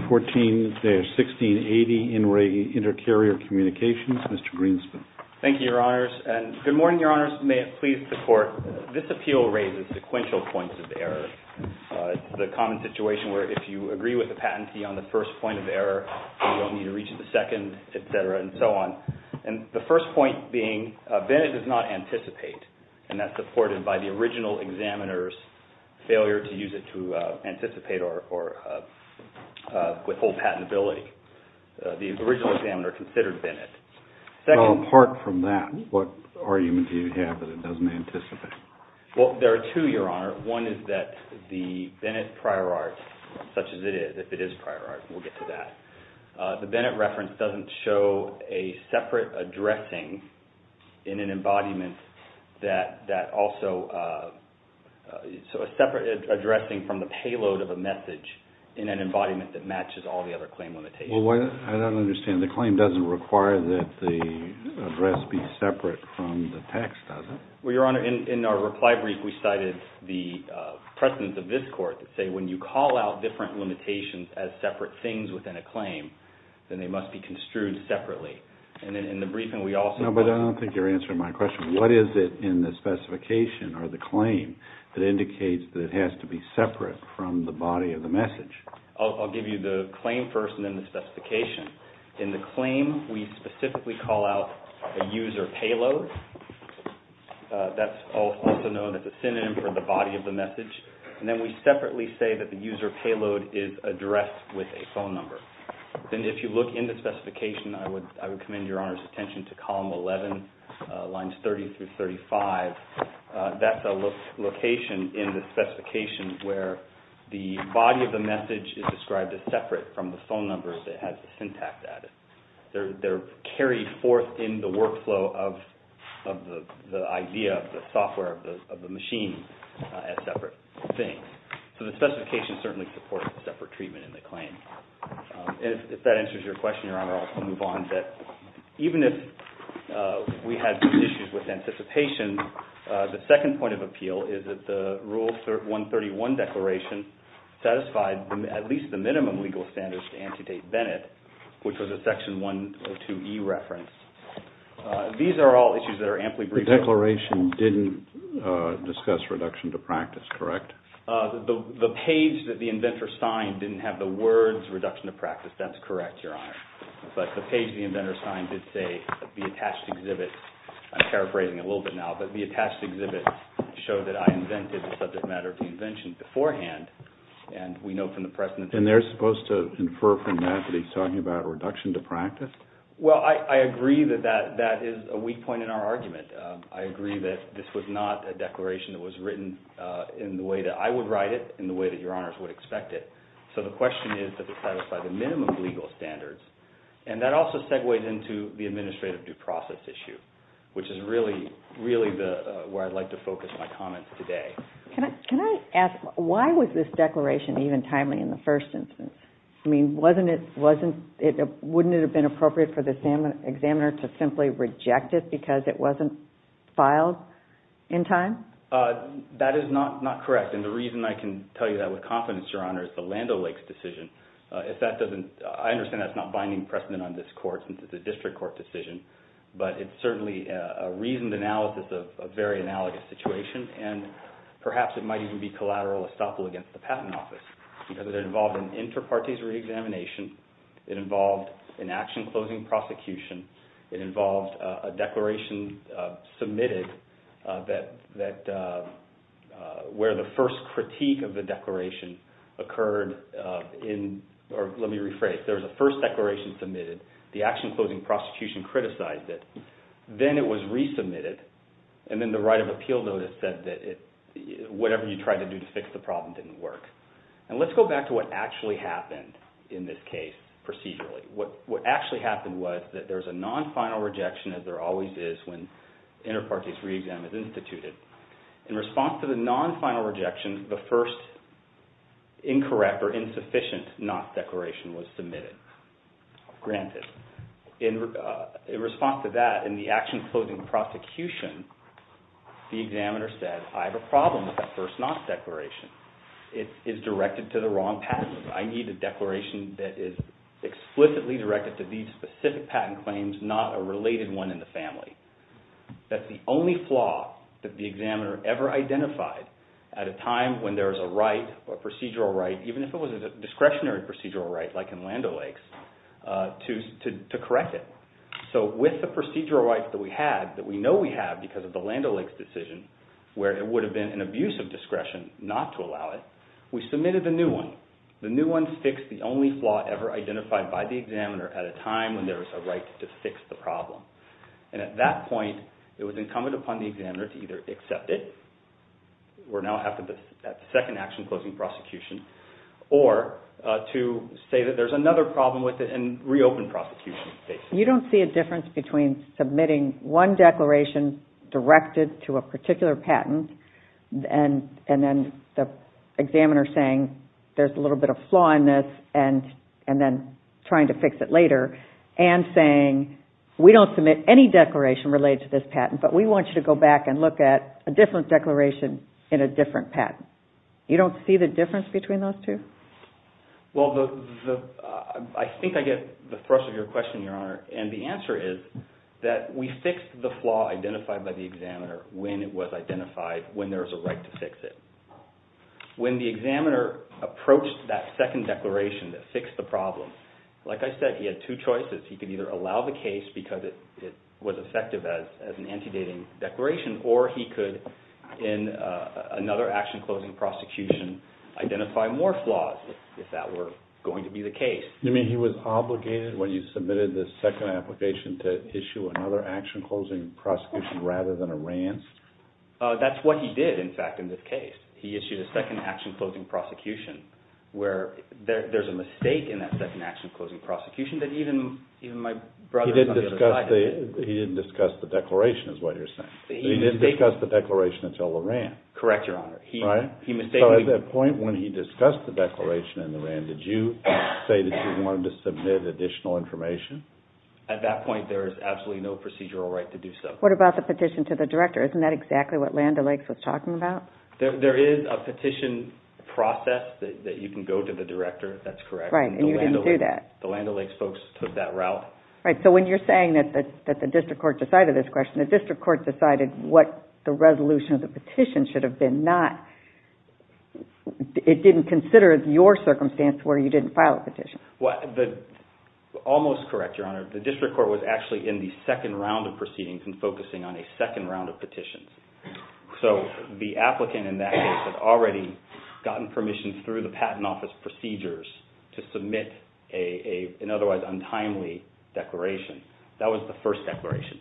14-1680, In Re Intercarrier Communications, Mr. Greenspan. Thank you, Your Honors. And good morning, Your Honors. May it please the Court, this appeal raises sequential points of error, the common situation where if you agree with the patentee on the first point of error, then you don't need to reach the second, et cetera, and so on. And the first point being Bennett does not anticipate, and that's supported by the original examiner's failure to use it to anticipate or withhold patentability. The original examiner considered Bennett. Well, apart from that, what argument do you have that it doesn't anticipate? Well, there are two, Your Honor. One is that the Bennett prior art, such as it is, if it is prior art, we'll get to that. The Bennett reference doesn't show a separate addressing in an embodiment that also, so a separate addressing from the payload of a message in an embodiment that matches all the other claim limitations. Well, I don't understand. The claim doesn't require that the address be separate from the text, does it? Well, Your Honor, in our reply brief, we cited the precedence of this Court that say when you call out different limitations as separate things within a claim, then they must be construed separately. And then in the briefing, we also... No, but I don't think you're answering my question. What is it in the specification or the claim that indicates that it has to be separate from the body of the message? I'll give you the claim first and then the specification. In the claim, we specifically call out a user payload. That's also known as a synonym for the body of the message. And then we separately say that the user payload is addressed with a phone number. And if you look in the specification, I would commend Your Honor's attention to column 11, lines 30 through 35. That's a location in the specification where the body of the message is described as separate from the phone number that has the syntax added. They're carried forth in the workflow of the idea of the software of the machine as separate things. So the specification certainly supports separate treatment in the claim. And if that answers your question, Your Honor, I'll move on. Even if we had issues with anticipation, the second point of appeal is that the Rule 131 declaration satisfied at least the minimum legal standards to antedate Bennett, which was a section 102E reference. These are all issues that are amply briefed. The declaration didn't discuss reduction to practice, correct? The page that the inventor signed didn't have the words reduction to practice. That's correct, Your Honor. But the page the inventor signed did say the attached exhibit, I'm paraphrasing a little bit now, but the attached exhibit showed that I invented the subject matter of the invention beforehand. And we know from the precedent. And they're supposed to infer from that that he's talking about a reduction to practice? Well, I agree that that is a weak point in our argument. I agree that this was not a declaration that was written in the way that I would write it and the way that Your Honors would expect it. So the question is that it satisfied the minimum legal standards. And that also segues into the administrative due process issue, which is really where I'd like to focus my comments today. Can I ask, why was this declaration even timely in the first instance? I mean, wasn't it, wasn't it, wouldn't it have been appropriate for the examiner to simply reject it because it wasn't filed in time? That is not correct. And the reason I can tell you that with confidence, Your Honor, is the Land O'Lakes decision. If that doesn't, I understand that's not binding precedent on this court since it's a district court decision. But it's certainly a reasoned analysis of a very analogous situation. And perhaps it might even be collateral estoppel against the Patent Office because it involved an inter partes re-examination. It involved an action-closing prosecution. It involved a declaration submitted that, where the first critique of the declaration occurred in, or let me rephrase, there was a first declaration submitted. The action-closing prosecution criticized it. Then it was resubmitted. And then the right of appeal notice said that it, whatever you tried to do to fix the problem didn't work. And let's go back to what actually happened in this case procedurally. What actually happened was that there was a non-final rejection as there always is when inter partes re-exam is instituted. In response to the non-final rejection, the first incorrect or insufficient not declaration was submitted, granted. In response to that, in the action-closing prosecution, the examiner said, I have a problem with that first not declaration. It is directed to the wrong patent. I need a declaration that is explicitly directed to these specific patent claims, not a related one in the family. That's the only flaw that the examiner ever identified at a time when there is a right, a procedural right, even if it was a discretionary procedural right like in Land O'Lakes, to correct it. So, with the procedural right that we had, that we know we have because of the Land O'Lakes decision where it would have been an abuse of discretion not to allow it, we submitted a new one. The new one fixed the only flaw ever identified by the examiner at a time when there was a right to fix the problem. And at that point, it was incumbent upon the examiner to either accept it, we're now after the second action-closing prosecution, or to say that there's another problem with it and reopen prosecution, basically. You don't see a difference between submitting one declaration directed to a particular patent and then the examiner saying, there's a little bit of flaw in this and then trying to fix it later and saying, we don't submit any declaration related to this patent, but we want you to go back and look at a different declaration in a different patent. You don't see the difference between those two? Well, I think I get the thrust of your question, Your Honor. And the answer is that we fixed the flaw identified by the examiner when it was identified, when there was a right to fix it. When the examiner approached that second declaration that fixed the problem, like I said, he had two choices. He could either allow the case because it was effective as an anti-dating declaration, or he could, in another action-closing prosecution, identify more flaws if that were going to be the case. You mean he was obligated, when you submitted the second application, to issue another action-closing prosecution rather than a rants? That's what he did, in fact, in this case. He issued a second action-closing prosecution where there's a mistake in that second action-closing prosecution that even my brother on the other side of the... He didn't discuss the declaration is what you're saying. He didn't discuss the declaration until the rant. Correct, Your Honor. Right? He mistakenly... So at that point when he discussed the declaration and the rant, did you say that you wanted to submit additional information? At that point, there is absolutely no procedural right to do so. What about the petition to the director? Isn't that exactly what Land O'Lakes was talking about? There is a petition process that you can go to the director, if that's correct. Right, and you didn't do that. The Land O'Lakes folks took that route. Right, so when you're saying that the district court decided this question, the district court decided what the resolution of the petition should have been, not... It didn't consider your circumstance where you didn't file a petition. Almost correct, Your Honor. The district court was actually in the second round of proceedings and focusing on a second round of petitions. So the applicant in that case had already gotten permission through the Patent Office procedures to submit an otherwise untimely declaration. That was the first declaration.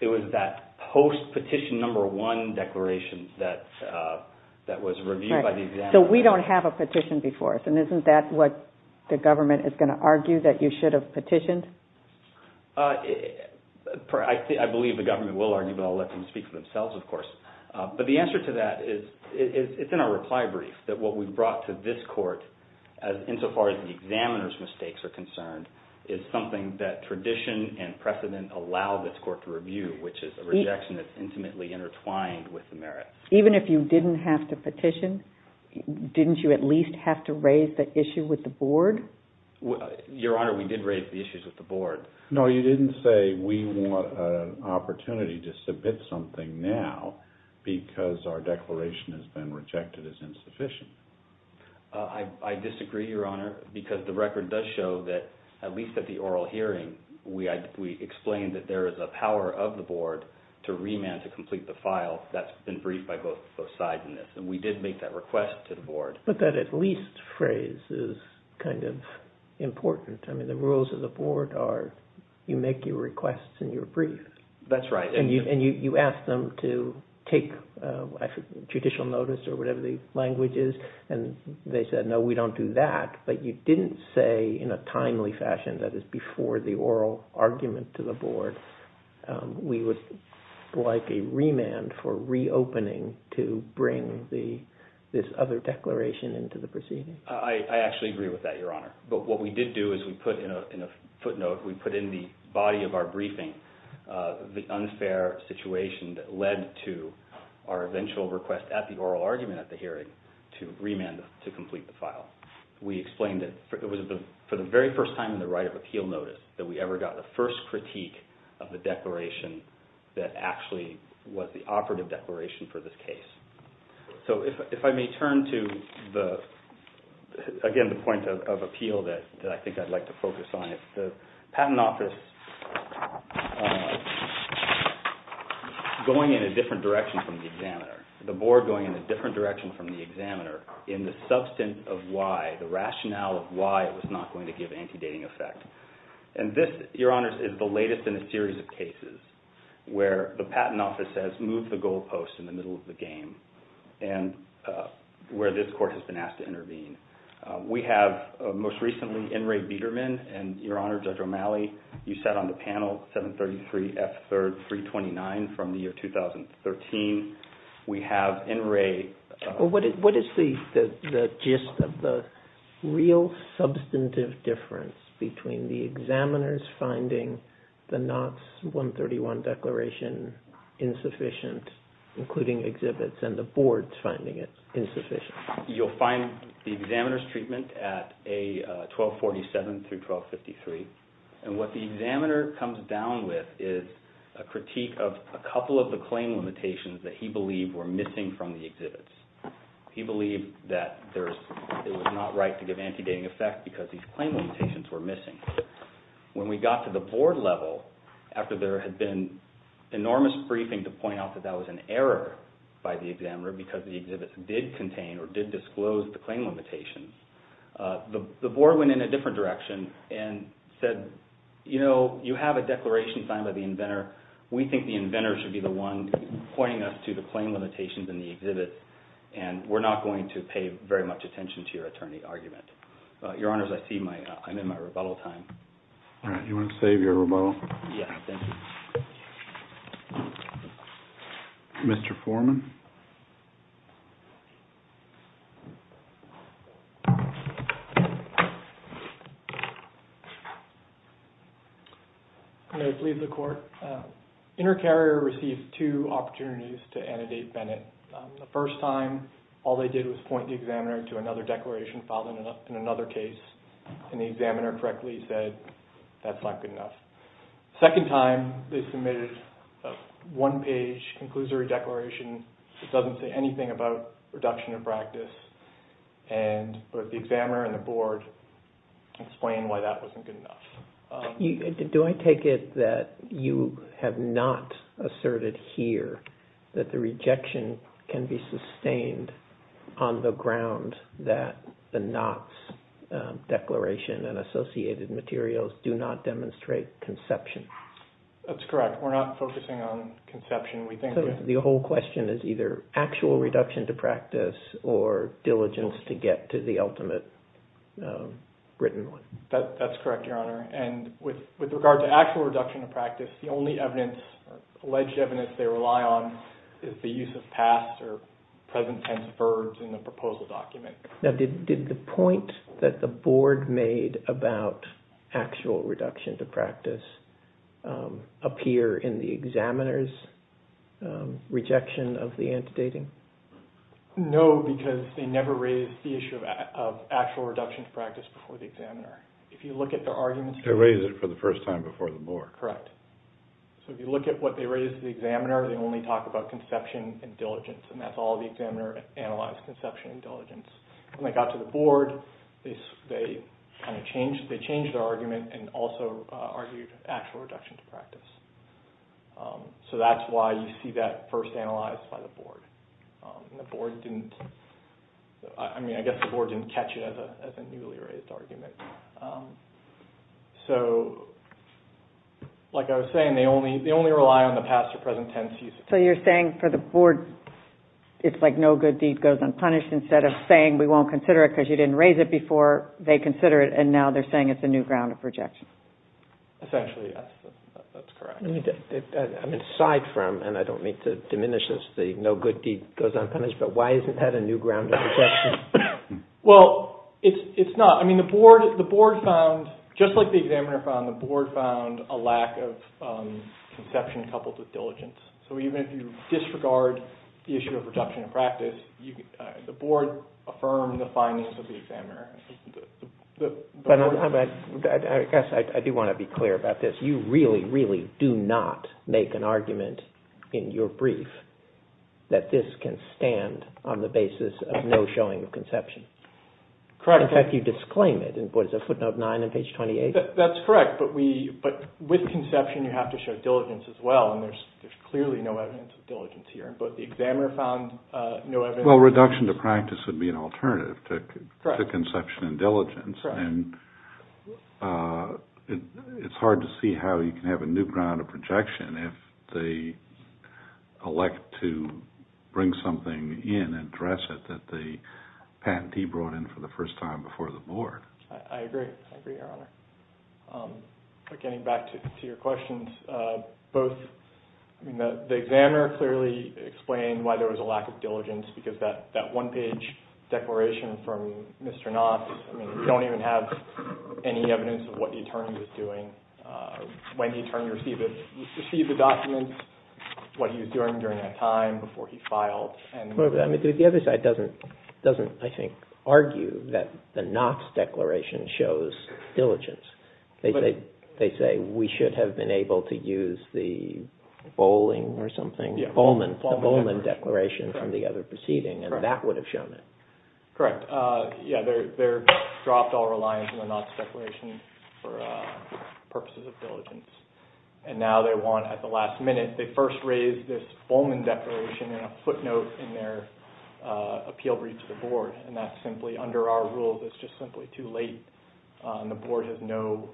It was that post-petition number one declaration that was reviewed by the examiner. So we don't have a petition before us, and isn't that what the government is going to argue, that you should have petitioned? I believe the government will argue, but I'll let them speak for themselves, of course. But the answer to that is, it's in our reply brief, that what we brought to this court, insofar as the examiner's mistakes are concerned, is something that tradition and precedent allow this court to review, which is a rejection that's intimately intertwined with the merit. Even if you didn't have to petition, didn't you at least have to raise the issue with the board? Your Honor, we did raise the issues with the board. No, you didn't say, we want an opportunity to submit something now because our declaration has been rejected as insufficient. I disagree, Your Honor, because the record does show that, at least at the oral hearing, we explained that there is a power of the board to remand to complete the file that's been briefed by both sides in this. We did make that request to the board. But that at least phrase is kind of important. I mean, the rules of the board are, you make your requests in your brief. That's right. And you asked them to take judicial notice or whatever the language is, and they said, no, we don't do that. But you didn't say in a timely fashion, that is before the oral argument to the board, we would like a remand for reopening to bring this other declaration into the proceeding. I actually agree with that, Your Honor. But what we did do is we put in a footnote, we put in the body of our briefing the unfair situation that led to our eventual request at the oral argument at the hearing to remand to complete the file. We explained that it was for the very first time in the right of appeal notice that we ever got the first critique of the declaration that actually was the operative declaration for this case. So if I may turn to the, again, the point of appeal that I think I'd like to focus on. The patent office going in a different direction from the examiner, the board going in a different direction from the examiner in the substance of why, the rationale of why it was not going to give anti-dating effect. And this, Your Honors, is the latest in a series of cases where the patent office says move the goalposts in the middle of the game and where this court has been asked to intervene. We have most recently N. Ray Biederman, and Your Honor, Judge O'Malley, you sat on the panel, 733 F. 3rd 329 from the year 2013. We have N. Ray. What is the gist of the real substantive difference between the examiner's finding the NOTS 131 declaration insufficient, including exhibits, and the board's finding it insufficient? You'll find the examiner's treatment at A. 1247 through 1253. And what the examiner comes down with is a critique of a couple of the claim limitations that he believed were missing from the exhibits. He believed that it was not right to give anti-dating effect because these claim limitations were missing. When we got to the board level, after there had been enormous briefing to point out that that was an error by the examiner because the exhibits did contain or did disclose the claim limitations, the board went in a different direction and said, you know, you have a declaration signed by the inventor. We think the inventor should be the one pointing us to the claim limitations in the exhibits, and we're not going to pay very much attention to your attorney argument. Your Honor, I see I'm in my rebuttal time. All right. You want to save your rebuttal? Yeah, thank you. Mr. Foreman? May I plead the court? Intercarrier received two opportunities to annotate Bennett. The first time, all they did was point the examiner to another declaration filed in another case, and the examiner correctly said, that's not good enough. Second time, they submitted a one-page conclusory declaration that doesn't say anything about reduction of practice, and the examiner and the board explained why that wasn't good enough. Do I take it that you have not asserted here that the rejection can be sustained on the ground that the Knott's declaration and associated materials do not demonstrate conception? That's correct. We're not focusing on conception. The whole question is either actual reduction to practice or diligence to get to the ultimate written one. That's correct, Your Honor. And with regard to actual reduction of practice, the only evidence, alleged evidence, they rely on is the use of past or present tense verbs in the proposal document. Now, did the point that the board made about actual reduction to practice appear in the examiner's rejection of the antedating? No, because they never raised the issue of actual reduction to practice before the examiner. If you look at their arguments... They raised it for the first time before the board. Correct. So if you look at what they raised to the examiner, they only talk about conception and diligence, and that's all the examiner analyzed, conception and diligence. When they got to the board, they changed their argument and also argued actual reduction to practice. So that's why you see that first analyzed by the board. The board didn't... I mean, I guess the board didn't catch it as a newly raised argument. So, like I was saying, they only rely on the past or present tense use. So you're saying for the board, it's like no good deed goes unpunished. Instead of saying we won't consider it because you didn't raise it before, they consider it, and now they're saying it's a new ground of rejection. Essentially, that's correct. I mean, aside from, and I don't mean to diminish this, the no good deed goes unpunished, but why isn't that a new ground of rejection? Well, it's not. I mean, the board found, just like the examiner found, the board found a lack of conception coupled with diligence. So even if you disregard the issue of reduction in practice, the board affirmed the findings of the examiner. But I guess I do want to be clear about this. You really, really do not make an argument in your brief that this can stand on the basis of no showing of conception. Correct. In fact, you disclaim it in what is it, footnote 9 on page 28? That's correct. But with conception, you have to show diligence as well, and there's clearly no evidence of diligence here. But the examiner found no evidence... Well, reduction to practice would be an alternative to conception and diligence, and it's hard to see how you can have a new ground of rejection if they elect to bring something in and address it that the patentee brought in for the first time before the board. I agree. I agree, Your Honor. But getting back to your questions, both, I mean, the examiner clearly explained why there's that one-page declaration from Mr. Knox. I mean, you don't even have any evidence of what the attorney was doing, when the attorney received the documents, what he was doing during that time before he filed. The other side doesn't, I think, argue that the Knox declaration shows diligence. They say we should have been able to use the Bowling or something, the Bowman declaration from the other proceeding, and that would have shown it. Correct. Yeah, they dropped all reliance on the Knox declaration for purposes of diligence. And now they want, at the last minute, they first raise this Bowman declaration in a footnote in their appeal brief to the board, and that's simply under our rules. It's just simply too late, and the board has no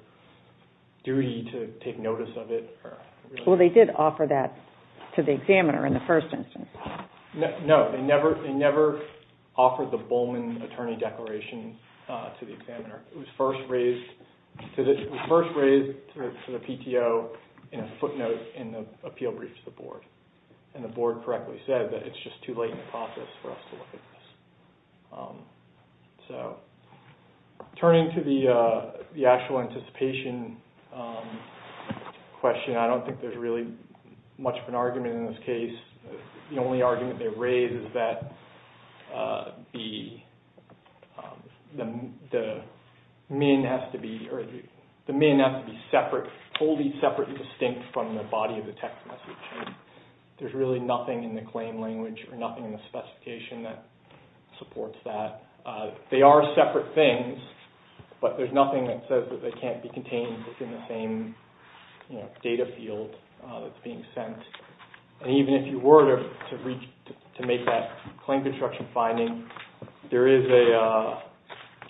duty to take notice of it. Well, they did offer that to the examiner in the first instance. No, they never offered the Bowman attorney declaration to the examiner. It was first raised to the PTO in a footnote in the appeal brief to the board. And the board correctly said that it's just too late in the process for us to look at this. So, turning to the actual anticipation question, I don't think there's really much of an argument in this case. The only argument they raise is that the MN has to be separate, fully separate and distinct from the body of the text message. There's really nothing in the claim language or nothing in the specification that supports that. They are separate things, but there's nothing that says that they can't be contained within the same data field that's being sent. And even if you were to make that claim construction finding, there is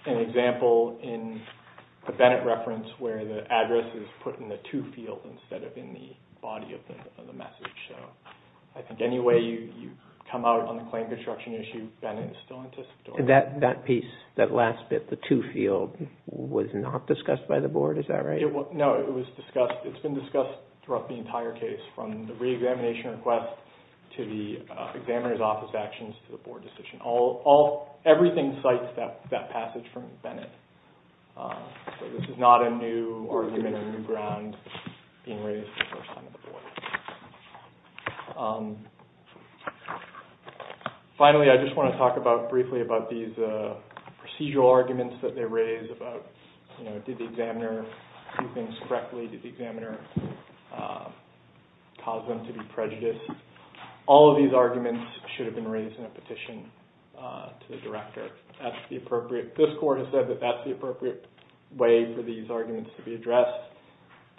an example in the Bennett reference where the address is put in the to field instead of in the body of the message. So, I think any way you come out on the claim construction issue, Bennett is still anticipated. That piece, that last bit, the to field, was not discussed by the board, is that right? No, it was discussed, it's been discussed throughout the entire case, from the re-examination request to the examiner's office actions to the board decision. Everything cites that passage from Bennett. So, this is not a new argument or new ground being raised for the first time at the board. Finally, I just want to talk briefly about these procedural arguments that they raise about, you know, did the examiner do things correctly? Did the examiner cause them to be prejudiced? All of these arguments should have been raised in a petition to the director. This court has said that that's the appropriate way for these arguments to be addressed.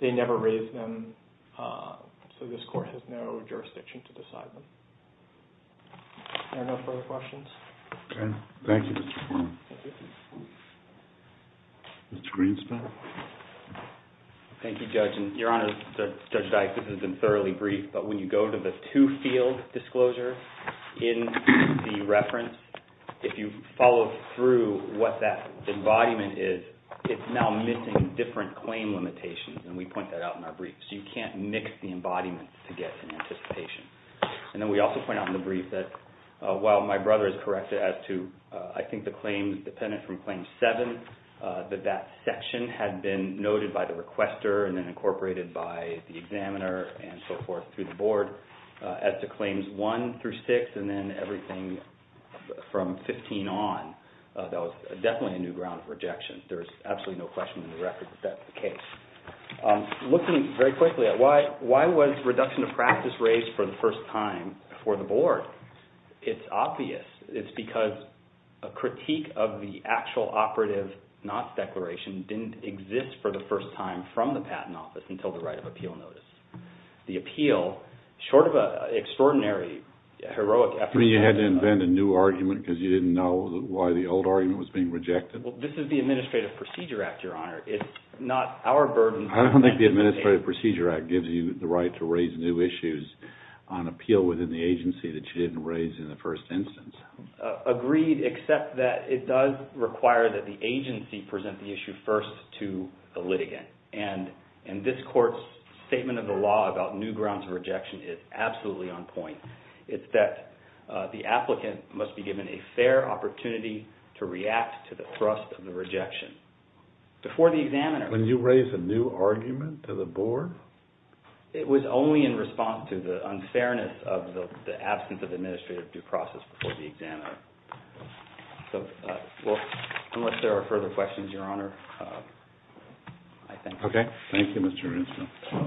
They never raised them, so this court has no jurisdiction to decide them. Are there no further questions? Okay. Thank you, Mr. Foreman. Mr. Greenspan? Thank you, Judge. Your Honor, Judge Dyke, this has been thoroughly brief, but when you go to the to field disclosure in the reference, if you follow through what that embodiment is, it's now missing different claim limitations, and we point that out in our brief. So, you can't mix the embodiments to get an anticipation. And then we also point out in the brief that, while my brother is correct as to I think the claims dependent from Claim 7, that that section had been noted by the requester and then incorporated by the examiner and so forth through the board as to Claims 1 through 6, and then everything from 15 on. That was definitely a new ground of rejection. There is absolutely no question in the record that that's the case. Looking very quickly at why was reduction of practice raised for the first time for the board? It's obvious. It's because a critique of the actual operative not declaration didn't exist for the first time from the Patent Office until the right of appeal notice. The appeal, short of an extraordinary heroic effort. You had to invent a new argument because you didn't know why the old argument was being rejected? This is the Administrative Procedure Act, Your Honor. It's not our burden. I don't think the Administrative Procedure Act gives you the right to raise new issues on appeal within the agency that you didn't raise in the first instance. Agreed, except that it does require that the agency present the issue first to the litigant. This court's statement of the law about new grounds of rejection is absolutely on point. It's that the applicant must be given a fair opportunity to react to the thrust of the rejection. Before the examiner... When you raise a new argument to the board? It was only in response to the unfairness of the absence of administrative due process before the examiner. Unless there are further questions, Your Honor, I thank you. Okay. Thank you, Mr. Ranskill.